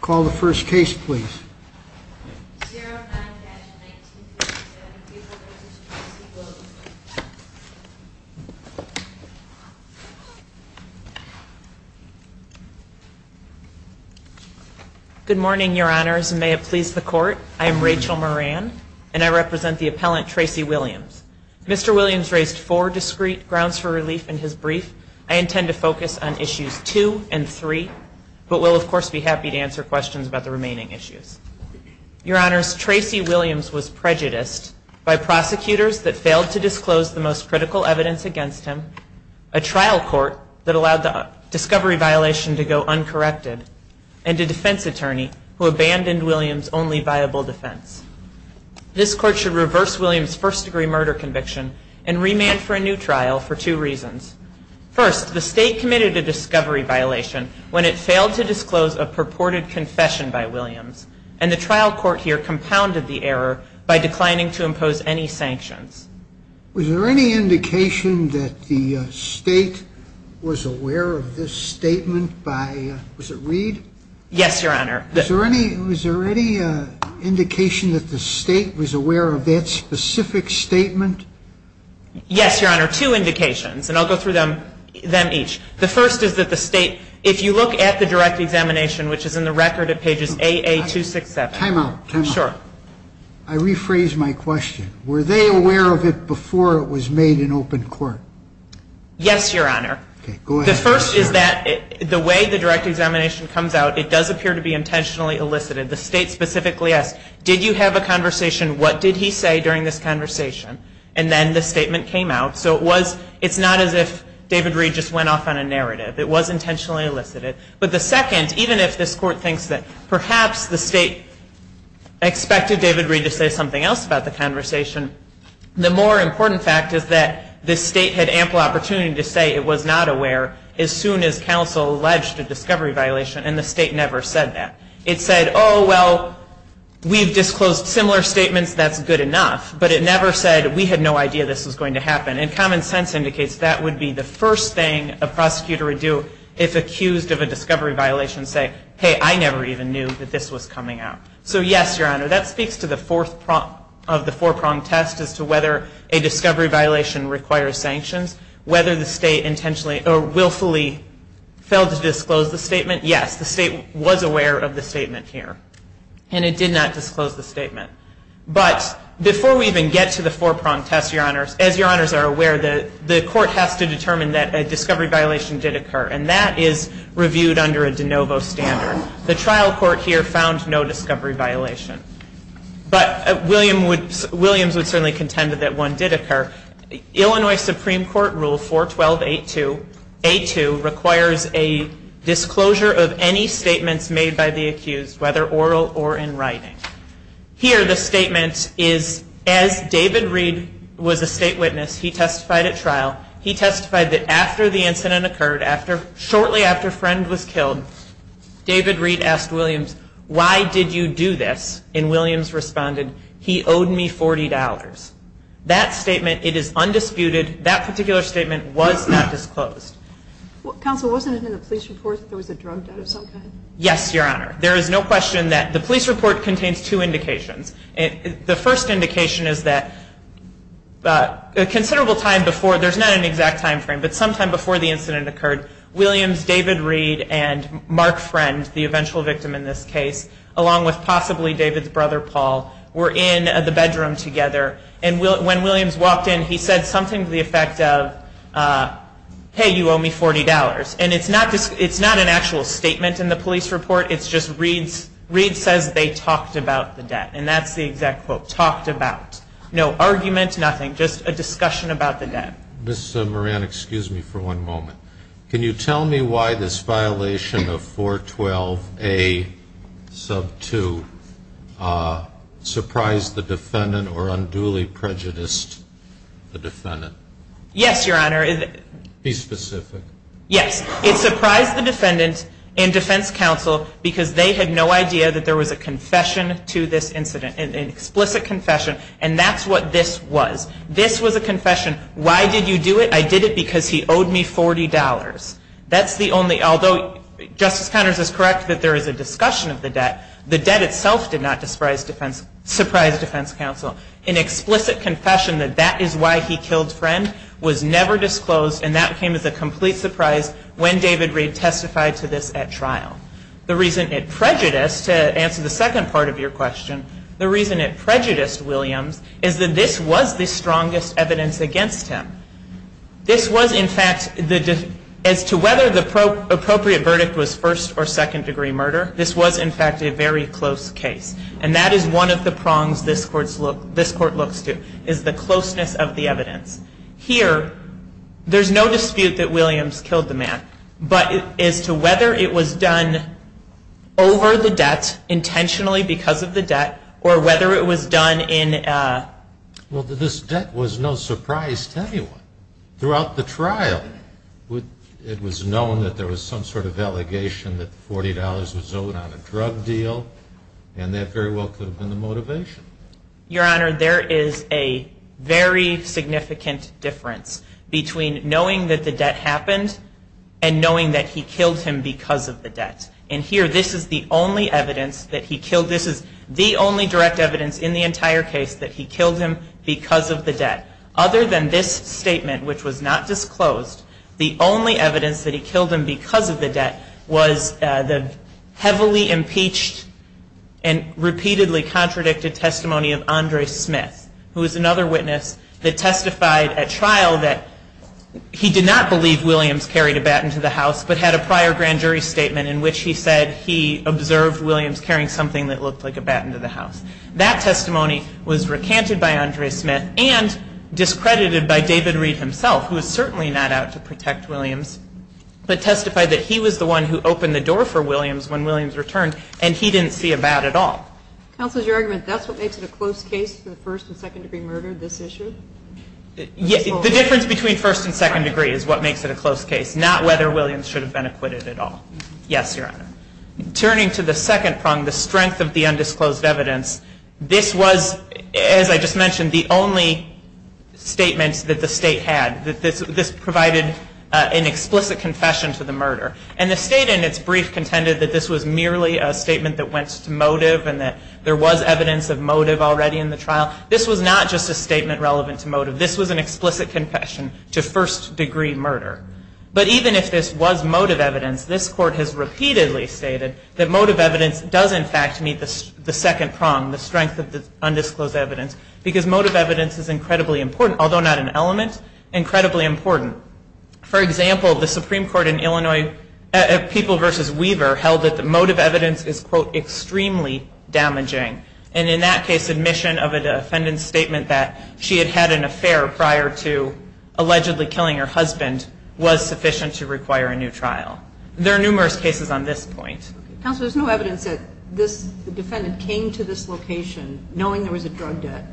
Call the first case, please. Good morning, Your Honors, and may it please the court. I am Rachel Moran, and I represent the appellant, Tracy Williams. Mr. Williams raised four discrete grounds for relief in his brief. I intend to focus on issues two and three, but will of course be happy to answer questions if you have them. questions about the remaining issues. Your Honors, Tracy Williams was prejudiced by prosecutors that failed to disclose the most critical evidence against him, a trial court that allowed the discovery violation to go uncorrected, and a defense attorney who abandoned Williams' only viable defense. This court should reverse Williams' first degree murder conviction and remand for a new trial for two reasons. First, the state committed a discovery violation when it failed to disclose a purported conviction. Second, the state did not disclose a purported confession by Williams, and the trial court here compounded the error by declining to impose any sanctions. Was there any indication that the state was aware of this statement by, was it Reed? Yes, Your Honor. Was there any indication that the state was aware of that specific statement? Yes, Your Honor, two indications, and I'll go through them each. The first is that the state, if you look at the direct examination, which is in the record at pages AA267. Time out. Time out. Sure. I rephrase my question. Were they aware of it before it was made in open court? Yes, Your Honor. Okay. Go ahead. The first is that the way the direct examination comes out, it does appear to be intentionally elicited. The state specifically asks, did you have a conversation? What did he say during this conversation? And then the statement came out. So it was, it's not as if David Reed just went off on a narrative. It was intentionally elicited. But the second, even if this court thinks that perhaps the state expected David Reed to say something else about the conversation, the more important fact is that the state had ample opportunity to say it was not aware as soon as counsel alleged a discovery violation, and the state never said that. It said, oh, well, we've disclosed similar statements. That's good enough. But it never said we had no idea this was going to happen. And common sense indicates that would be the first thing a prosecutor would do if accused of a discovery violation. Say, hey, I never even knew that this was coming out. So, yes, Your Honor, that speaks to the fourth of the four-pronged test as to whether a discovery violation requires sanctions, whether the state has to determine that a discovery violation did occur. And that is reviewed under a de novo standard. The trial court here found no discovery violation. But Williams would certainly contend that one did occur. Illinois Supreme Court Rule 412.82 requires a disclosure of any statements made by the accused whether oral or in writing. Here, the statement is, as David Reed was a state witness, he testified at trial. He testified that after the incident occurred, shortly after Friend was killed, David Reed asked Williams, why did you do this? And Williams responded, he owed me $40. That statement, it is undisputed. That particular statement was not disclosed. Counsel, wasn't it in the police report that there was a drug debt of some kind? Yes, Your Honor. There is no question that the police report contains two indications. The first indication is that a considerable time before, there's not an exact time frame, but sometime before the incident occurred, Williams, David Reed, and Mark Friend, the eventual victim in this case, along with possibly David's brother, Paul, were in the bedroom together. And when Williams walked in, he said something to the effect of, hey, you owe me $40. And it's not an actual statement in the police report. It's just Reed says they talked about the debt. And that's the exact quote, talked about. No argument, nothing, just a discussion about the debt. Ms. Moran, excuse me for one moment. Can you tell me why this violation of 412A, sub 2, surprised the defendant or unduly prejudiced the defendant? Yes, Your Honor. Be specific. Yes. It surprised the defendant and defense counsel because they had no idea that there was a confession to this incident, an explicit confession. And that's what this was. This was a confession, why did you do it? I did it because he owed me $40. That's the only, although Justice Connors is correct that there is a discussion of the debt, the debt itself did not surprise defense counsel. An explicit confession that that is why he killed Friend was never disclosed and that came as a complete surprise when David Reed testified to this at trial. The reason it prejudiced, to answer the second part of your question, the reason it prejudiced Williams is that this was the strongest evidence against him. This was in fact, as to whether the appropriate verdict was first or second degree murder, this was in fact a very close case. And that is one of the prongs this Court looks to, is the closeness of the evidence. Here, there's no dispute that Williams killed the man, but as to whether it was done over the debt, intentionally because of the debt, or whether it was done in a Well, this debt was no surprise to anyone. Throughout the trial, it was known that there was some sort of allegation that $40 was owed on a drug deal. And that very well could have been the motivation. Your Honor, there is a very significant difference between knowing that the debt happened and knowing that he killed him because of the debt. And here, this is the only evidence that he killed, this is the only direct evidence in the entire case that he killed him because of the debt. Other than this statement, which was not disclosed, the only evidence that he killed him because of the debt was the heavily impeached and repeatedly contradicted testimony of Andre Smith, who is another witness that testified at trial that he did not believe Williams carried a bat into the house, but had a prior grand jury statement in which he said he observed Williams carrying something that looked like a bat into the house. That testimony was recanted by Andre Smith and discredited by David Reed himself, who is certainly not out to protect Williams, but testified that he was the one who opened the door for Williams when Williams returned and he didn't see a bat at all. Counsel, is your argument that's what makes it a close case for the first and second degree murder, this issue? The difference between first and second degree is what makes it a close case, not whether Williams should have been acquitted at all. Yes, Your Honor. Turning to the second prong, the strength of the undisclosed evidence, this was, as I just mentioned, the only statements that the State had. This provided an explicit confession to the murder. And the State in its brief contended that this was merely a statement that went to motive and that there was evidence of motive already in the trial. This was not just a statement relevant to motive. This was an explicit confession to first degree murder. But even if this was motive evidence, this Court has repeatedly stated that motive evidence does, in fact, meet the second prong, the strength of the undisclosed evidence, because motive evidence is incredibly important, although not an element, incredibly important. For example, the Supreme Court in Illinois, People v. Weaver, held that the motive evidence is, quote, extremely damaging. And in that case, admission of a defendant's statement that she had had an affair prior to allegedly killing her husband was sufficient to require a new trial. There are numerous cases on this point. Counsel, there's no evidence that this defendant came to this location knowing there was a drug debt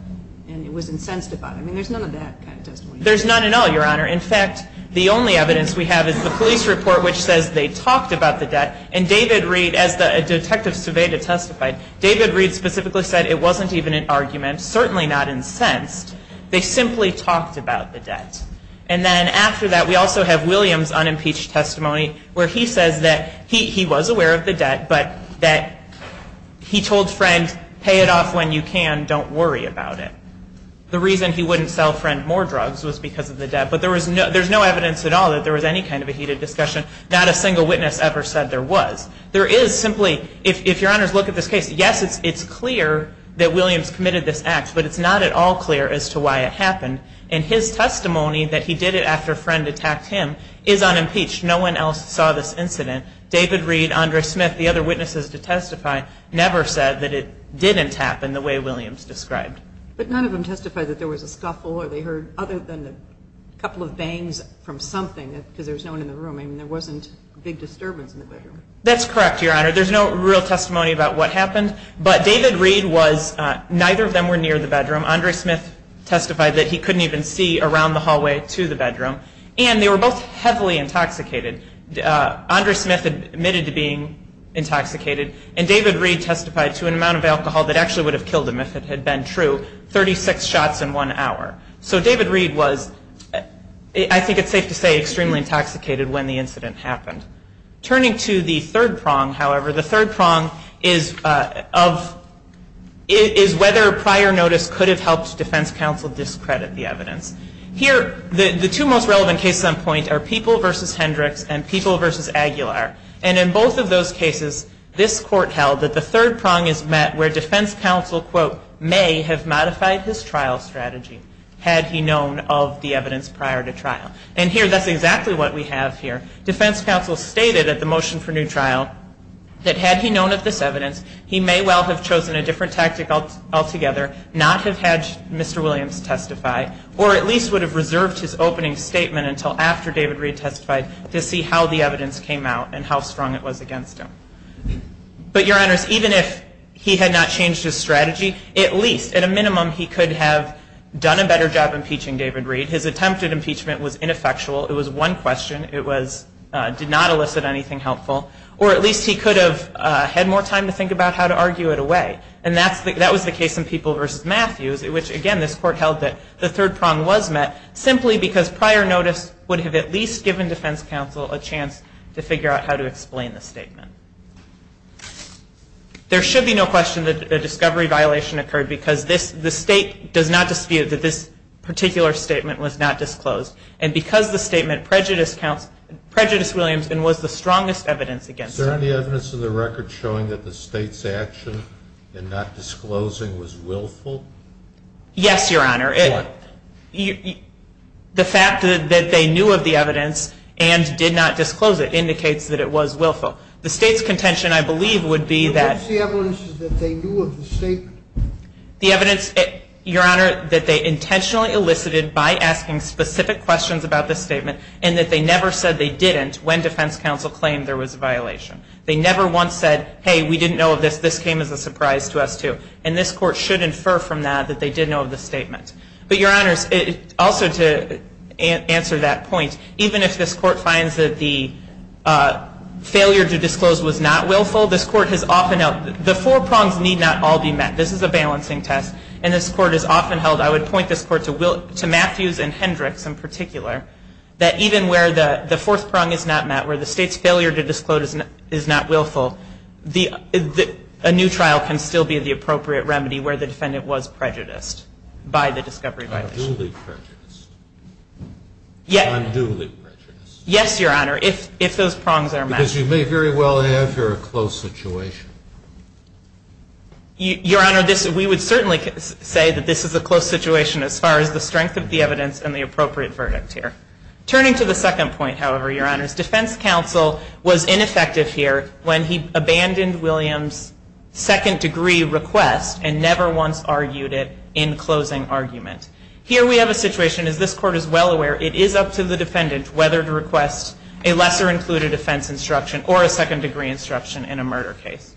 and it was incensed about it. I mean, there's none of that kind of testimony. There's none at all, Your Honor. In fact, the only evidence we have is the police report, which says they talked about the debt. And David Reed, as the detective surveyed and testified, David Reed specifically said it wasn't even an argument, certainly not incensed. They simply talked about the debt. And then after that, we also have Williams' unimpeached testimony, where he says that he was aware of the debt, but that he told Friend, pay it off when you can. Don't worry about it. The reason he wouldn't sell Friend more drugs was because of the debt. But there's no evidence at all that there was any kind of a heated discussion. Not a single witness ever said there was. There is simply, if Your Honors look at this case, yes, it's clear that Williams committed this act, but it's not at all clear as to why it happened. And his testimony that he did it after Friend attacked him is unimpeached. No one else saw this incident. David Reed, Andre Smith, the other witnesses to testify, never said that it didn't happen the way Williams described. But none of them testified that there was a scuffle or they heard other than a couple of bangs from something, because there was no one in the room. I mean, there wasn't a big disturbance in the bedroom. That's correct, Your Honor. There's no real testimony about what happened. But David Reed was, neither of them were near the bedroom. Andre Smith testified that he couldn't even see around the hallway to the bedroom. And they were both heavily intoxicated. Andre Smith admitted to being intoxicated. And David Reed testified to an amount of alcohol that actually would have killed him if it had been true, 36 shots in one hour. So David Reed was, I think it's safe to say, extremely intoxicated when the incident happened. Turning to the third prong, however, the third prong is whether prior notice could have helped defense counsel discredit the evidence. Here, the two most relevant cases on point are People v. Hendricks and People v. Aguilar. And in both of those cases, this Court held that the third prong is met where defense counsel, quote, may have modified his trial strategy had he known of the evidence prior to trial. And here, that's exactly what we have here. Defense counsel stated at the motion for new trial that had he known of this evidence, he may well have chosen a different tactic altogether, not have had Mr. Williams testify, or at least would have reserved his opening statement until after David Reed testified to see how the evidence came out and how strong it was against him. But, Your Honors, even if he had not changed his strategy, at least, at a minimum, he could have done a better job impeaching David Reed. His attempt at impeachment was ineffectual. It was one question. It did not elicit anything helpful. Or at least he could have had more time to think about how to argue it away. And that was the case in People v. Matthews, which, again, this Court held that the third prong was met simply because prior notice would have at least given defense counsel a chance to figure out how to explain the statement. There should be no question that a discovery violation occurred because the State does not dispute that this particular statement was not disclosed. And because the statement prejudiced Williams and was the strongest evidence against him. Is there any evidence in the record showing that the State's action in not disclosing was willful? Yes, Your Honor. What? The fact that they knew of the evidence and did not disclose it indicates that it was willful. The State's contention, I believe, would be that the evidence, Your Honor, that they intentionally elicited by asking specific questions about the statement and that they never said they didn't when defense counsel claimed there was a violation. They never once said, hey, we didn't know of this. This came as a surprise to us, too. And this Court should infer from that that they did know of the statement. But, Your Honors, also to answer that point, even if this Court finds that the failure to disclose was not willful, this Court has often held the four prongs need not all be met. This is a balancing test. And this Court has often held, I would point this Court to Matthews and Hendricks in particular, that even where the fourth prong is not met, where the State's failure to disclose is not willful, a new trial can still be the appropriate remedy where the defendant was prejudiced by the discovery violation. Unduly prejudiced. Unduly prejudiced. Yes, Your Honor, if those prongs are met. Because you may very well have here a close situation. Your Honor, we would certainly say that this is a close situation as far as the strength of the evidence and the appropriate verdict here. Turning to the second point, however, Your Honors, defense counsel was ineffective here when he abandoned Williams' second degree request and never once argued it in closing argument. Here we have a situation, as this Court is well aware, it is up to the defendant whether to request a lesser included offense instruction or a second degree instruction in a murder case.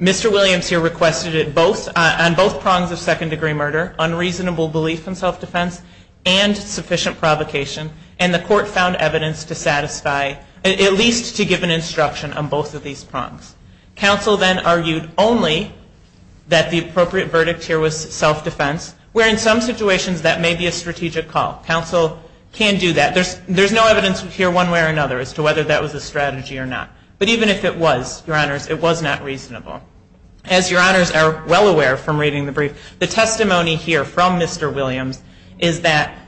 Mr. Williams here requested it on both prongs of second degree murder, unreasonable belief in self-defense, and sufficient provocation, and the Court found evidence to satisfy, at least to give an instruction on both of these prongs. Counsel then argued only that the appropriate verdict here was self-defense, where in some situations that may be a strategic call. Counsel can do that. There's no evidence here one way or another as to whether that was a strategy or not. But even if it was, Your Honors, it was not reasonable. As Your Honors are well aware from reading the brief, the testimony here from Mr. Williams is that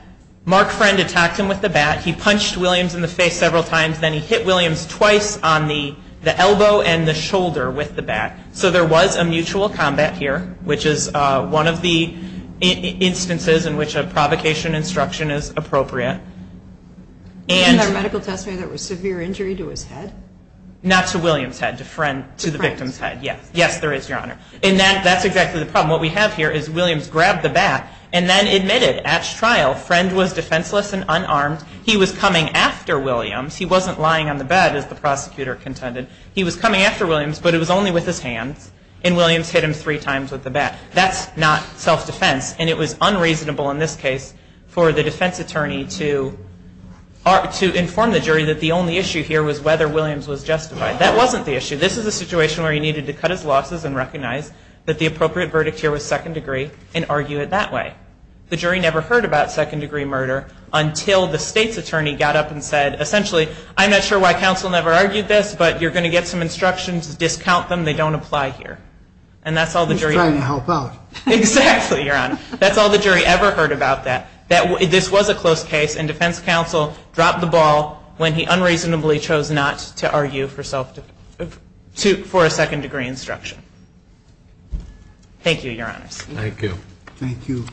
Mark Friend attacked him with the bat, he punched Williams in the face several times, then he hit Williams twice on the elbow and the shoulder with the bat. So there was a mutual combat here, which is one of the instances in which a provocation instruction is appropriate. In the medical testimony there was severe injury to his head? Not to Williams' head, to the victim's head. Yes, there is, Your Honor. And that's exactly the problem. What we have here is Williams grabbed the bat and then admitted at trial, Friend was defenseless and unarmed. He was coming after Williams. He wasn't lying on the bed, as the prosecutor contended. He was coming after Williams, but it was only with his hands, and Williams hit him three times with the bat. That's not self-defense. And it was unreasonable in this case for the defense attorney to inform the jury that the only issue here was whether Williams was justified. That wasn't the issue. This is a situation where he needed to cut his losses and recognize that the appropriate verdict here was second degree and argue it that way. The jury never heard about second-degree murder until the state's attorney got up and said, essentially, I'm not sure why counsel never argued this, but you're going to get some instructions to discount them. They don't apply here. He's trying to help out. Exactly, Your Honor. That's all the jury ever heard about that. This was a close case, and defense counsel dropped the ball when he unreasonably chose not to argue for a second-degree instruction. Thank you, Your Honors. Thank you. Thank you.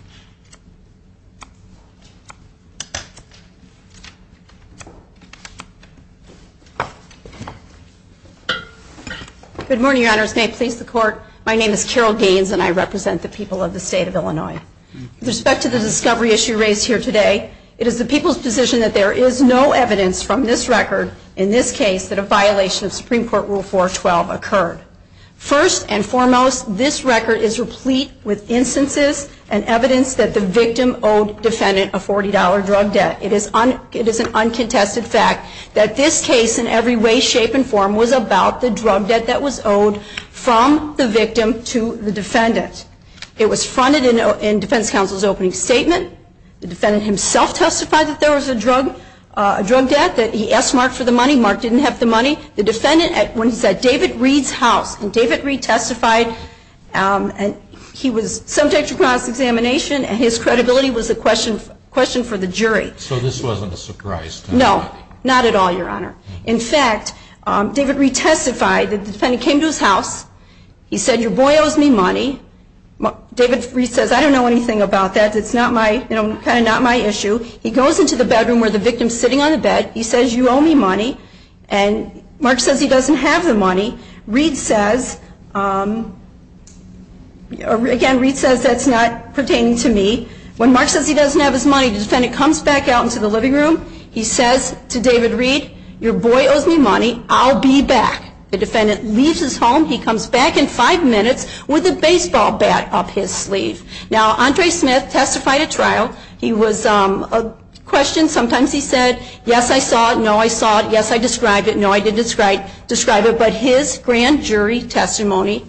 Good morning, Your Honors. May it please the Court. My name is Carol Gaines, and I represent the people of the state of Illinois. With respect to the discovery issue raised here today, it is the people's position that there is no evidence from this record, in this case, that a violation of Supreme Court Rule 412 occurred. First and foremost, this record is replete with instances and evidence that the victim owed defendant a $40 drug debt. It is an uncontested fact that this case, in every way, shape, and form was about the drug debt that was owed from the victim to the defendant. It was fronted in defense counsel's opening statement. The defendant himself testified that there was a drug debt, that he asked Mark for the money. Mark didn't have the money. The defendant, when he said, David Reed's house, and David Reed testified, and he was subject to cross-examination, and his credibility was a question for the jury. So this wasn't a surprise to him. No, not at all, Your Honor. In fact, David Reed testified that the defendant came to his house. He said, your boy owes me money. David Reed says, I don't know anything about that. It's kind of not my issue. He goes into the bedroom where the victim is sitting on the bed. He says, you owe me money. And Mark says he doesn't have the money. Reed says, again, Reed says, that's not pertaining to me. When Mark says he doesn't have his money, the defendant comes back out into the living room. He says to David Reed, your boy owes me money. I'll be back. The defendant leaves his home. He comes back in five minutes with a baseball bat up his sleeve. Now, Andre Smith testified at trial. He was questioned. Sometimes he said, yes, I saw it. No, I saw it. Yes, I described it. No, I didn't describe it. But his grand jury testimony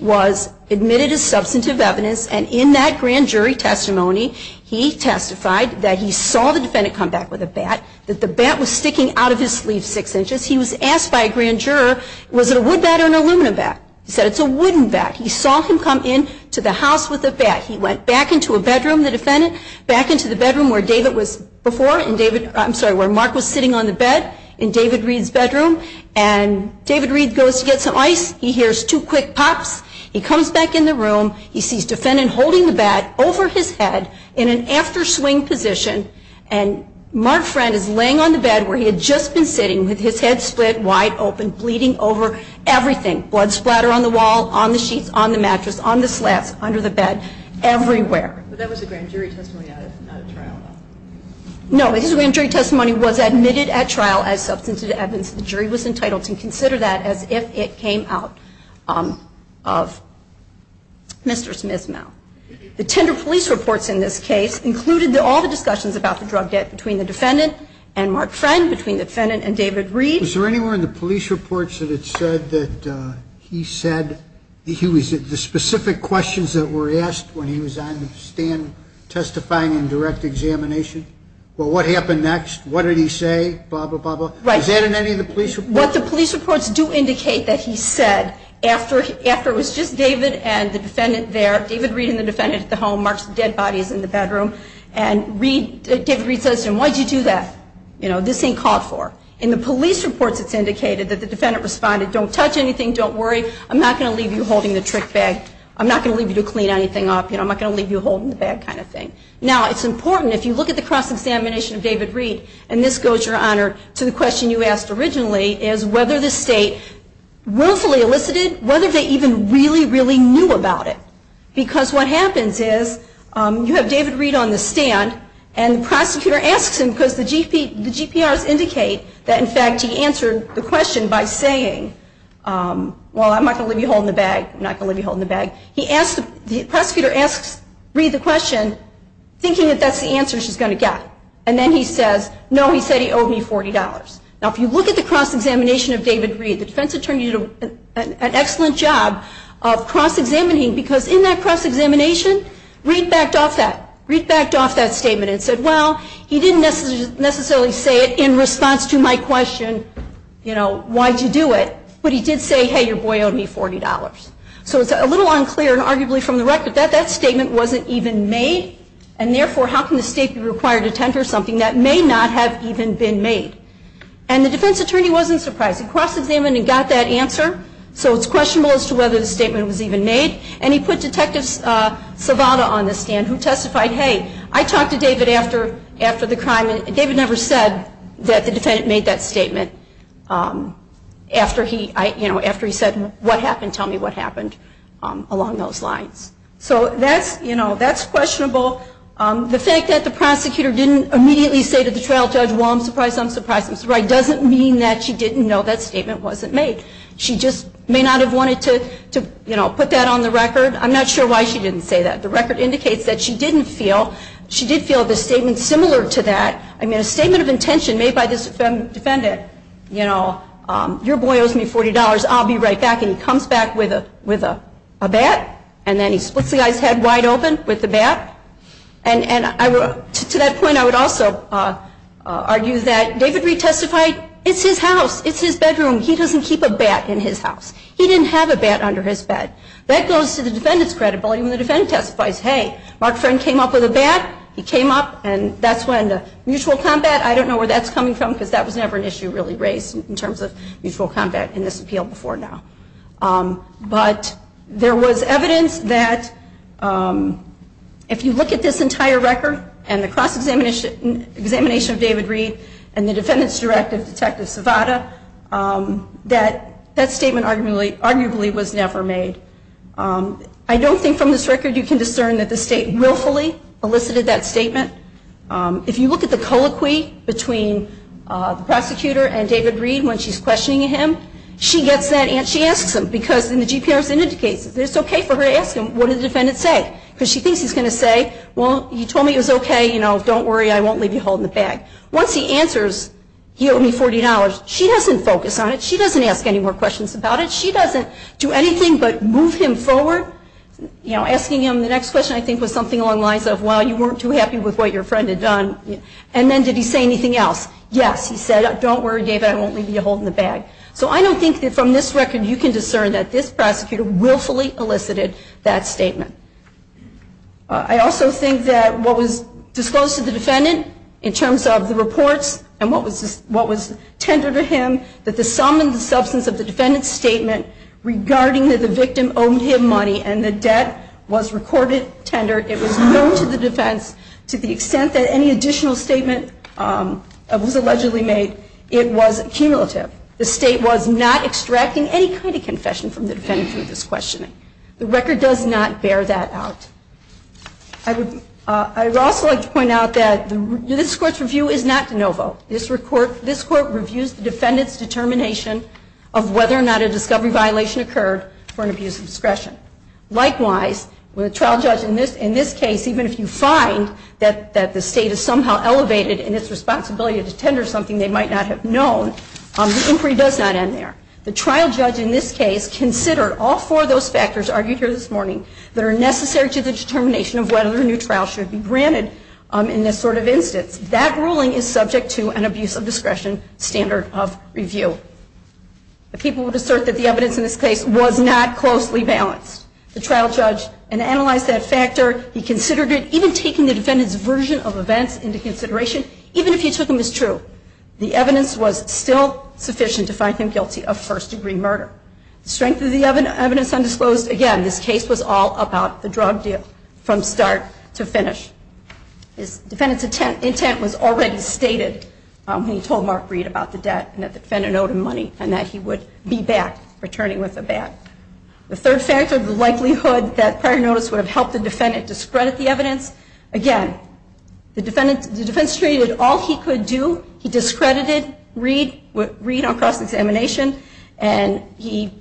was admitted as substantive evidence, and in that grand jury testimony, he testified that he saw the defendant come back with a bat, that the bat was sticking out of his sleeve six inches. He was asked by a grand juror, was it a wood bat or an aluminum bat? He said, it's a wooden bat. He saw him come into the house with a bat. He went back into a bedroom, the defendant, back into the bedroom where David was before, I'm sorry, where Mark was sitting on the bed in David Reed's bedroom, and David Reed goes to get some ice. He hears two quick pops. He comes back in the room. He sees the defendant holding the bat over his head in an afterswing position, and Mark Friend is laying on the bed where he had just been sitting with his head split wide open, bleeding over everything, blood splatter on the wall, on the sheets, on the mattress, on the slats, under the bed, everywhere. But that was a grand jury testimony, not a trial. No, his grand jury testimony was admitted at trial as substantive evidence. The jury was entitled to consider that as if it came out of Mr. Smith's mouth. The tender police reports in this case included all the discussions about the drug debt between the defendant and Mark Friend, between the defendant and David Reed. Was there anywhere in the police reports that it said that he said, the specific questions that were asked when he was on the stand testifying in direct examination? Well, what happened next? What did he say? Blah, blah, blah, blah. Right. Was that in any of the police reports? What the police reports do indicate that he said after it was just David and the defendant there, David Reed and the defendant at the home, Mark's dead body is in the bedroom, and David Reed says to him, why'd you do that? You know, this ain't called for. In the police reports it's indicated that the defendant responded, don't touch anything, don't worry, I'm not going to leave you holding the trick bag. I'm not going to leave you to clean anything up. I'm not going to leave you holding the bag kind of thing. Now, it's important, if you look at the cross-examination of David Reed, and this goes, Your Honor, to the question you asked originally, is whether the state willfully elicited, whether they even really, really knew about it. Because what happens is you have David Reed on the stand, and the prosecutor asks him, because the GPRs indicate that, in fact, he answered the question by saying, well, I'm not going to leave you holding the bag, I'm not going to leave you holding the bag. The prosecutor asks Reed the question, thinking that that's the answer she's going to get. And then he says, no, he said he owed me $40. Now, if you look at the cross-examination of David Reed, the defense attorney did an excellent job of cross-examining, because in that cross-examination, Reed backed off that statement and said, well, he didn't necessarily say it in response to my question, you know, why'd you do it? But he did say, hey, your boy owed me $40. So it's a little unclear, and arguably from the record, that that statement wasn't even made, and therefore, how can the state be required to tender something that may not have even been made? And the defense attorney wasn't surprised. He cross-examined and got that answer, so it's questionable as to whether the statement was even made. And he put Detective Savada on the stand, who testified, hey, I talked to David after the crime, and David never said that the defendant made that statement after he said, what happened, tell me what happened, along those lines. So that's questionable. The fact that the prosecutor didn't immediately say to the trial judge, well, I'm surprised, I'm surprised, I'm surprised, doesn't mean that she didn't know that statement wasn't made. She just may not have wanted to, you know, put that on the record. I'm not sure why she didn't say that. The record indicates that she didn't feel, she did feel the statement similar to that. I mean, a statement of intention made by this defendant, you know, your boy owes me $40, I'll be right back, and he comes back with a bat, and then he splits the guy's head wide open with the bat. And to that point, I would also argue that David Reed testified, it's his house, it's his bedroom, he doesn't keep a bat in his house. He didn't have a bat under his bed. That goes to the defendant's credibility when the defendant testifies, hey, Mark Friend came up with a bat, he came up, and that's when the mutual combat, I don't know where that's coming from because that was never an issue really raised in terms of mutual combat in this appeal before now. But there was evidence that if you look at this entire record and the cross-examination of David Reed and the defendant's directive, Detective Savada, that that statement arguably was never made. I don't think from this record you can discern that the state willfully elicited that statement. If you look at the colloquy between the prosecutor and David Reed when she's questioning him, she gets that and she asks him, because in the GPRS indicates that it's okay for her to ask him, what did the defendant say, because she thinks he's going to say, well, you told me it was okay, you know, don't worry, I won't leave you holding the bag. Once he answers, you owe me $40, she doesn't focus on it, she doesn't ask any more questions about it, she doesn't do anything but move him forward, you know, asking him the next question, I think was something along the lines of, well, you weren't too happy with what your friend had done, and then did he say anything else? Yes, he said, don't worry, David, I won't leave you holding the bag. So I don't think that from this record you can discern that this prosecutor willfully elicited that statement. I also think that what was disclosed to the defendant in terms of the reports and what was tendered to him, that the sum and the substance of the defendant's statement regarding that the victim owed him money and the debt was recorded tender, it was known to the defense to the extent that any additional statement was allegedly made, it was cumulative. The state was not extracting any kind of confession from the defendant for this questioning. The record does not bear that out. I would also like to point out that this Court's review is not de novo. This Court reviews the defendant's determination of whether or not a discovery violation occurred for an abuse of discretion. Likewise, with a trial judge in this case, even if you find that the state has somehow elevated in its responsibility to tender something they might not have known, the inquiry does not end there. The trial judge in this case considered all four of those factors argued here this morning that are necessary to the determination of whether a new trial should be granted in this sort of instance. That ruling is subject to an abuse of discretion standard of review. The people would assert that the evidence in this case was not closely balanced. The trial judge analyzed that factor. He considered it, even taking the defendant's version of events into consideration, even if he took them as true. The evidence was still sufficient to find him guilty of first-degree murder. The strength of the evidence undisclosed, again, this case was all about the drug deal from start to finish. His defendant's intent was already stated when he told Mark Reed about the debt and that the defendant owed him money and that he would be back, returning with a bet. The third factor, the likelihood that prior notice would have helped the defendant to spread the evidence. Again, the defendant stated all he could do. He discredited Reed on cross-examination, and he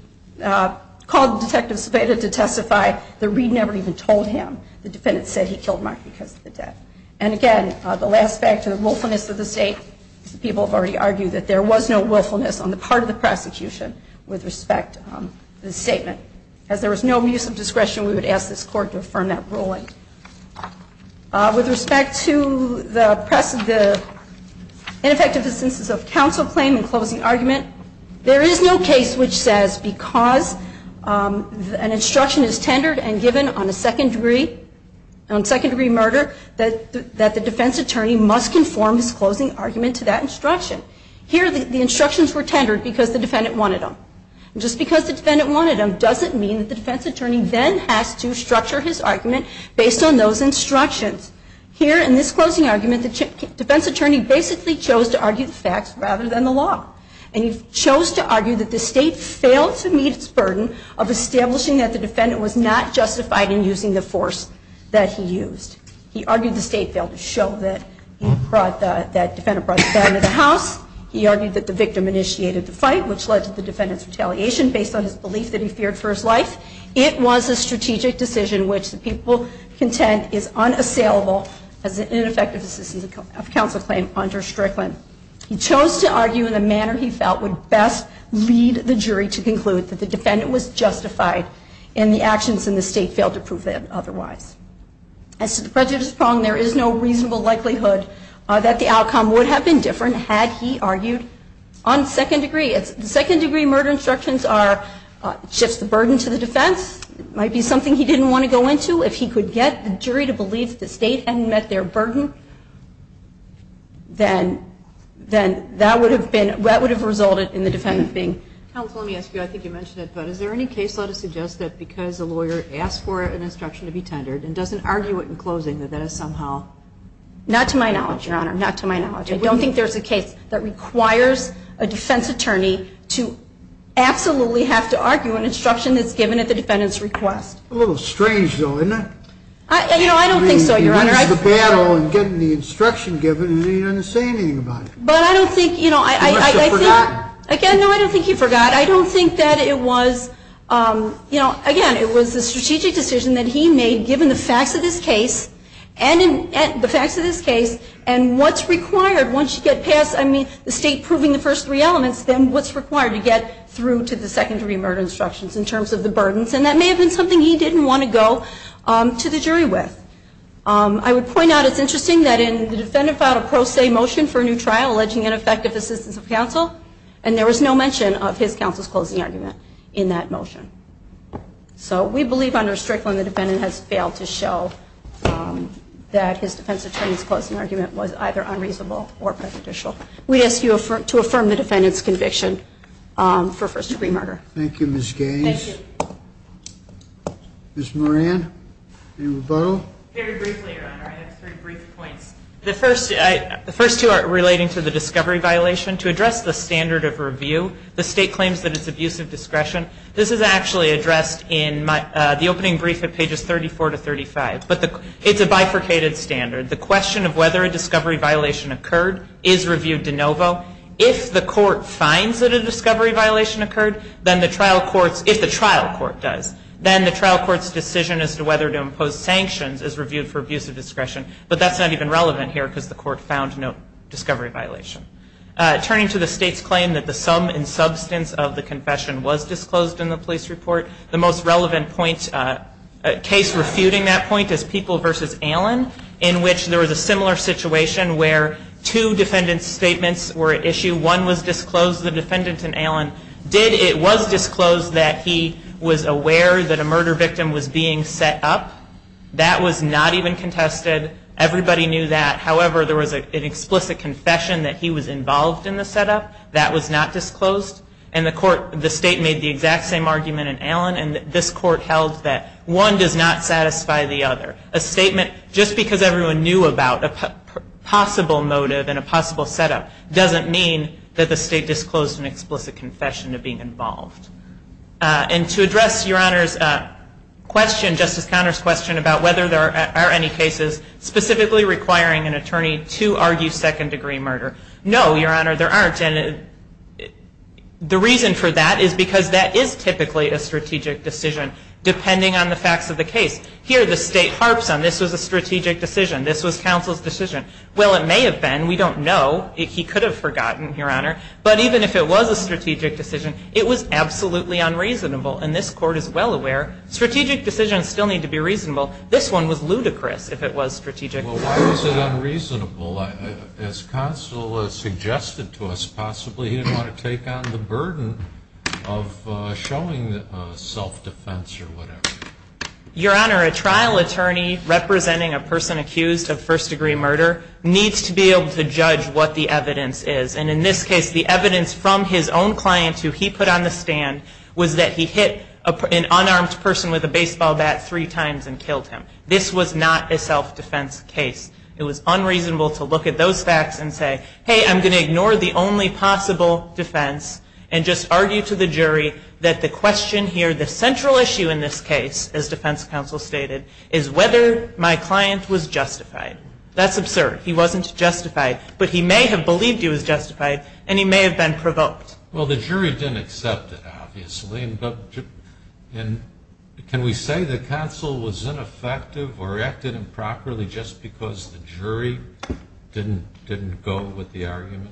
called Detective Spada to testify. The Reed never even told him. The defendant said he killed Mark because of the debt. And again, the last factor, the willfulness of the state. People have already argued that there was no willfulness on the part of the prosecution with respect to this statement. As there was no use of discretion, we would ask this Court to affirm that ruling. With respect to the ineffective instances of counsel claim and closing argument, there is no case which says because an instruction is tendered and given on a second-degree murder that the defense attorney must conform his closing argument to that instruction. Here, the instructions were tendered because the defendant wanted them. And just because the defendant wanted them doesn't mean that the defense attorney then has to structure his argument based on those instructions. Here in this closing argument, the defense attorney basically chose to argue the facts rather than the law. And he chose to argue that the state failed to meet its burden of establishing that the defendant was not justified in using the force that he used. He argued the state failed to show that the defendant brought the burden to the house. He argued that the victim initiated the fight, which led to the defendant's retaliation based on his belief that he feared for his life. It was a strategic decision which the people contend is unassailable as an ineffective instance of counsel claim under Strickland. He chose to argue in the manner he felt would best lead the jury to conclude that the defendant was justified and the actions in the state failed to prove that otherwise. As to the prejudice problem, there is no reasonable likelihood that the outcome would have been different had he argued on second degree. Second degree murder instructions shifts the burden to the defense. It might be something he didn't want to go into. If he could get the jury to believe that the state hadn't met their burden, then that would have resulted in the defendant being justified. Counsel, let me ask you. I think you mentioned it, but is there any case law to suggest that because a lawyer Not to my knowledge, Your Honor. Not to my knowledge. I don't think there's a case that requires a defense attorney to absolutely have to argue an instruction that's given at the defendant's request. A little strange, though, isn't it? I don't think so, Your Honor. He wins the battle in getting the instruction given, and he didn't say anything about it. But I don't think, you know, I think. He must have forgot. Again, no, I don't think he forgot. I don't think that it was, you know, again, it was a strategic decision that he made given the facts of this case, and the facts of this case, and what's required once you get past, I mean, the state proving the first three elements, then what's required to get through to the secondary murder instructions in terms of the burdens. And that may have been something he didn't want to go to the jury with. I would point out it's interesting that in the defendant filed a pro se motion for a new trial alleging ineffective assistance of counsel, and there was no mention of his counsel's closing argument in that motion. So we believe under Strickland the defendant has failed to show that his defense attorney's closing argument was either unreasonable or prejudicial. We ask you to affirm the defendant's conviction for first degree murder. Thank you, Ms. Gaines. Thank you. Ms. Moran, any rebuttal? Very briefly, Your Honor, I have three brief points. The first two are relating to the discovery violation. To address the standard of review, the state claims that it's abuse of discretion. This is actually addressed in the opening brief at pages 34 to 35. But it's a bifurcated standard. The question of whether a discovery violation occurred is reviewed de novo. If the trial court's decision as to whether to impose sanctions is reviewed for abuse of discretion, but that's not even relevant here because the court found no discovery violation. Turning to the state's claim that the sum and substance of the confession was disclosed in the police report, the most relevant case refuting that point is People v. Allen, in which there was a similar situation where two defendant's statements were at issue. One was disclosed to the defendant in Allen. It was disclosed that he was aware that a murder victim was being set up. That was not even contested. Everybody knew that. However, there was an explicit confession that he was involved in the setup. That was not disclosed. And the state made the exact same argument in Allen, and this court held that one does not satisfy the other. A statement just because everyone knew about a possible motive and a possible setup doesn't mean that the state disclosed an explicit confession of being involved. And to address Your Honor's question, Justice Conner's question, about whether there are any cases specifically requiring an attorney to argue second-degree murder. No, Your Honor, there aren't. And the reason for that is because that is typically a strategic decision, depending on the facts of the case. Here the state harps on this was a strategic decision. This was counsel's decision. Well, it may have been. We don't know. He could have forgotten, Your Honor. But even if it was a strategic decision, it was absolutely unreasonable. And this court is well aware strategic decisions still need to be reasonable. This one was ludicrous if it was strategic. Well, why was it unreasonable? As counsel suggested to us, possibly he didn't want to take on the burden of showing self-defense or whatever. Your Honor, a trial attorney representing a person accused of first-degree murder needs to be able to judge what the evidence is. And in this case, the evidence from his own client who he put on the stand was that he hit an unarmed person with a baseball bat three times and killed him. This was not a self-defense case. It was unreasonable to look at those facts and say, hey, I'm going to ignore the only possible defense and just argue to the jury that the question here, the central issue in this case, as defense counsel stated, is whether my client was justified. That's absurd. He wasn't justified. But he may have believed he was justified, and he may have been provoked. Well, the jury didn't accept it, obviously. And can we say the counsel was ineffective or acted improperly just because the jury didn't go with the argument?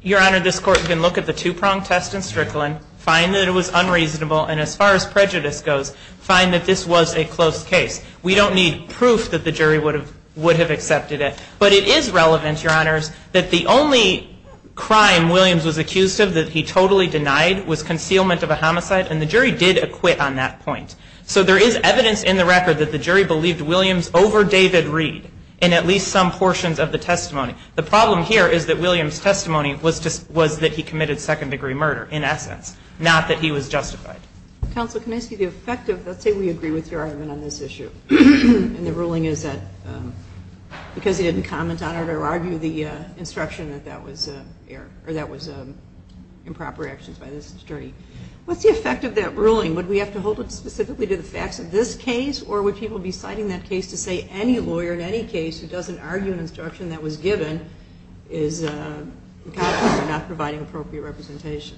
Your Honor, this Court can look at the two-pronged test in Strickland, find that it was unreasonable, and as far as prejudice goes, find that this was a close case. We don't need proof that the jury would have accepted it. But it is relevant, Your Honors, that the only crime Williams was accused of that he totally denied was concealment of a homicide, and the jury did acquit on that point. So there is evidence in the record that the jury believed Williams over David Reed in at least some portions of the testimony. The problem here is that Williams' testimony was that he committed second-degree murder, in essence, not that he was justified. Counsel, can I ask you the effect of that? Let's say we agree with your argument on this issue. And the ruling is that because he didn't comment on it or argue the instruction that that was improper actions by this attorney. What's the effect of that ruling? Would we have to hold it specifically to the facts of this case, or would people be citing that case to say any lawyer in any case who doesn't argue an instruction that was given is not providing appropriate representation?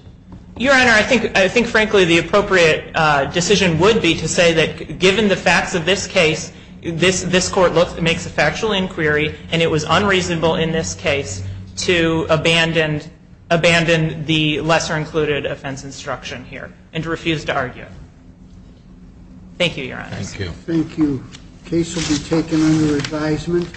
Your Honor, I think frankly the appropriate decision would be to say that given the facts of this case, this Court makes a factual inquiry, and it was unreasonable in this case to abandon the lesser-included offense instruction here and to refuse to argue. Thank you, Your Honors. Thank you. Thank you. The case will be taken under advisement.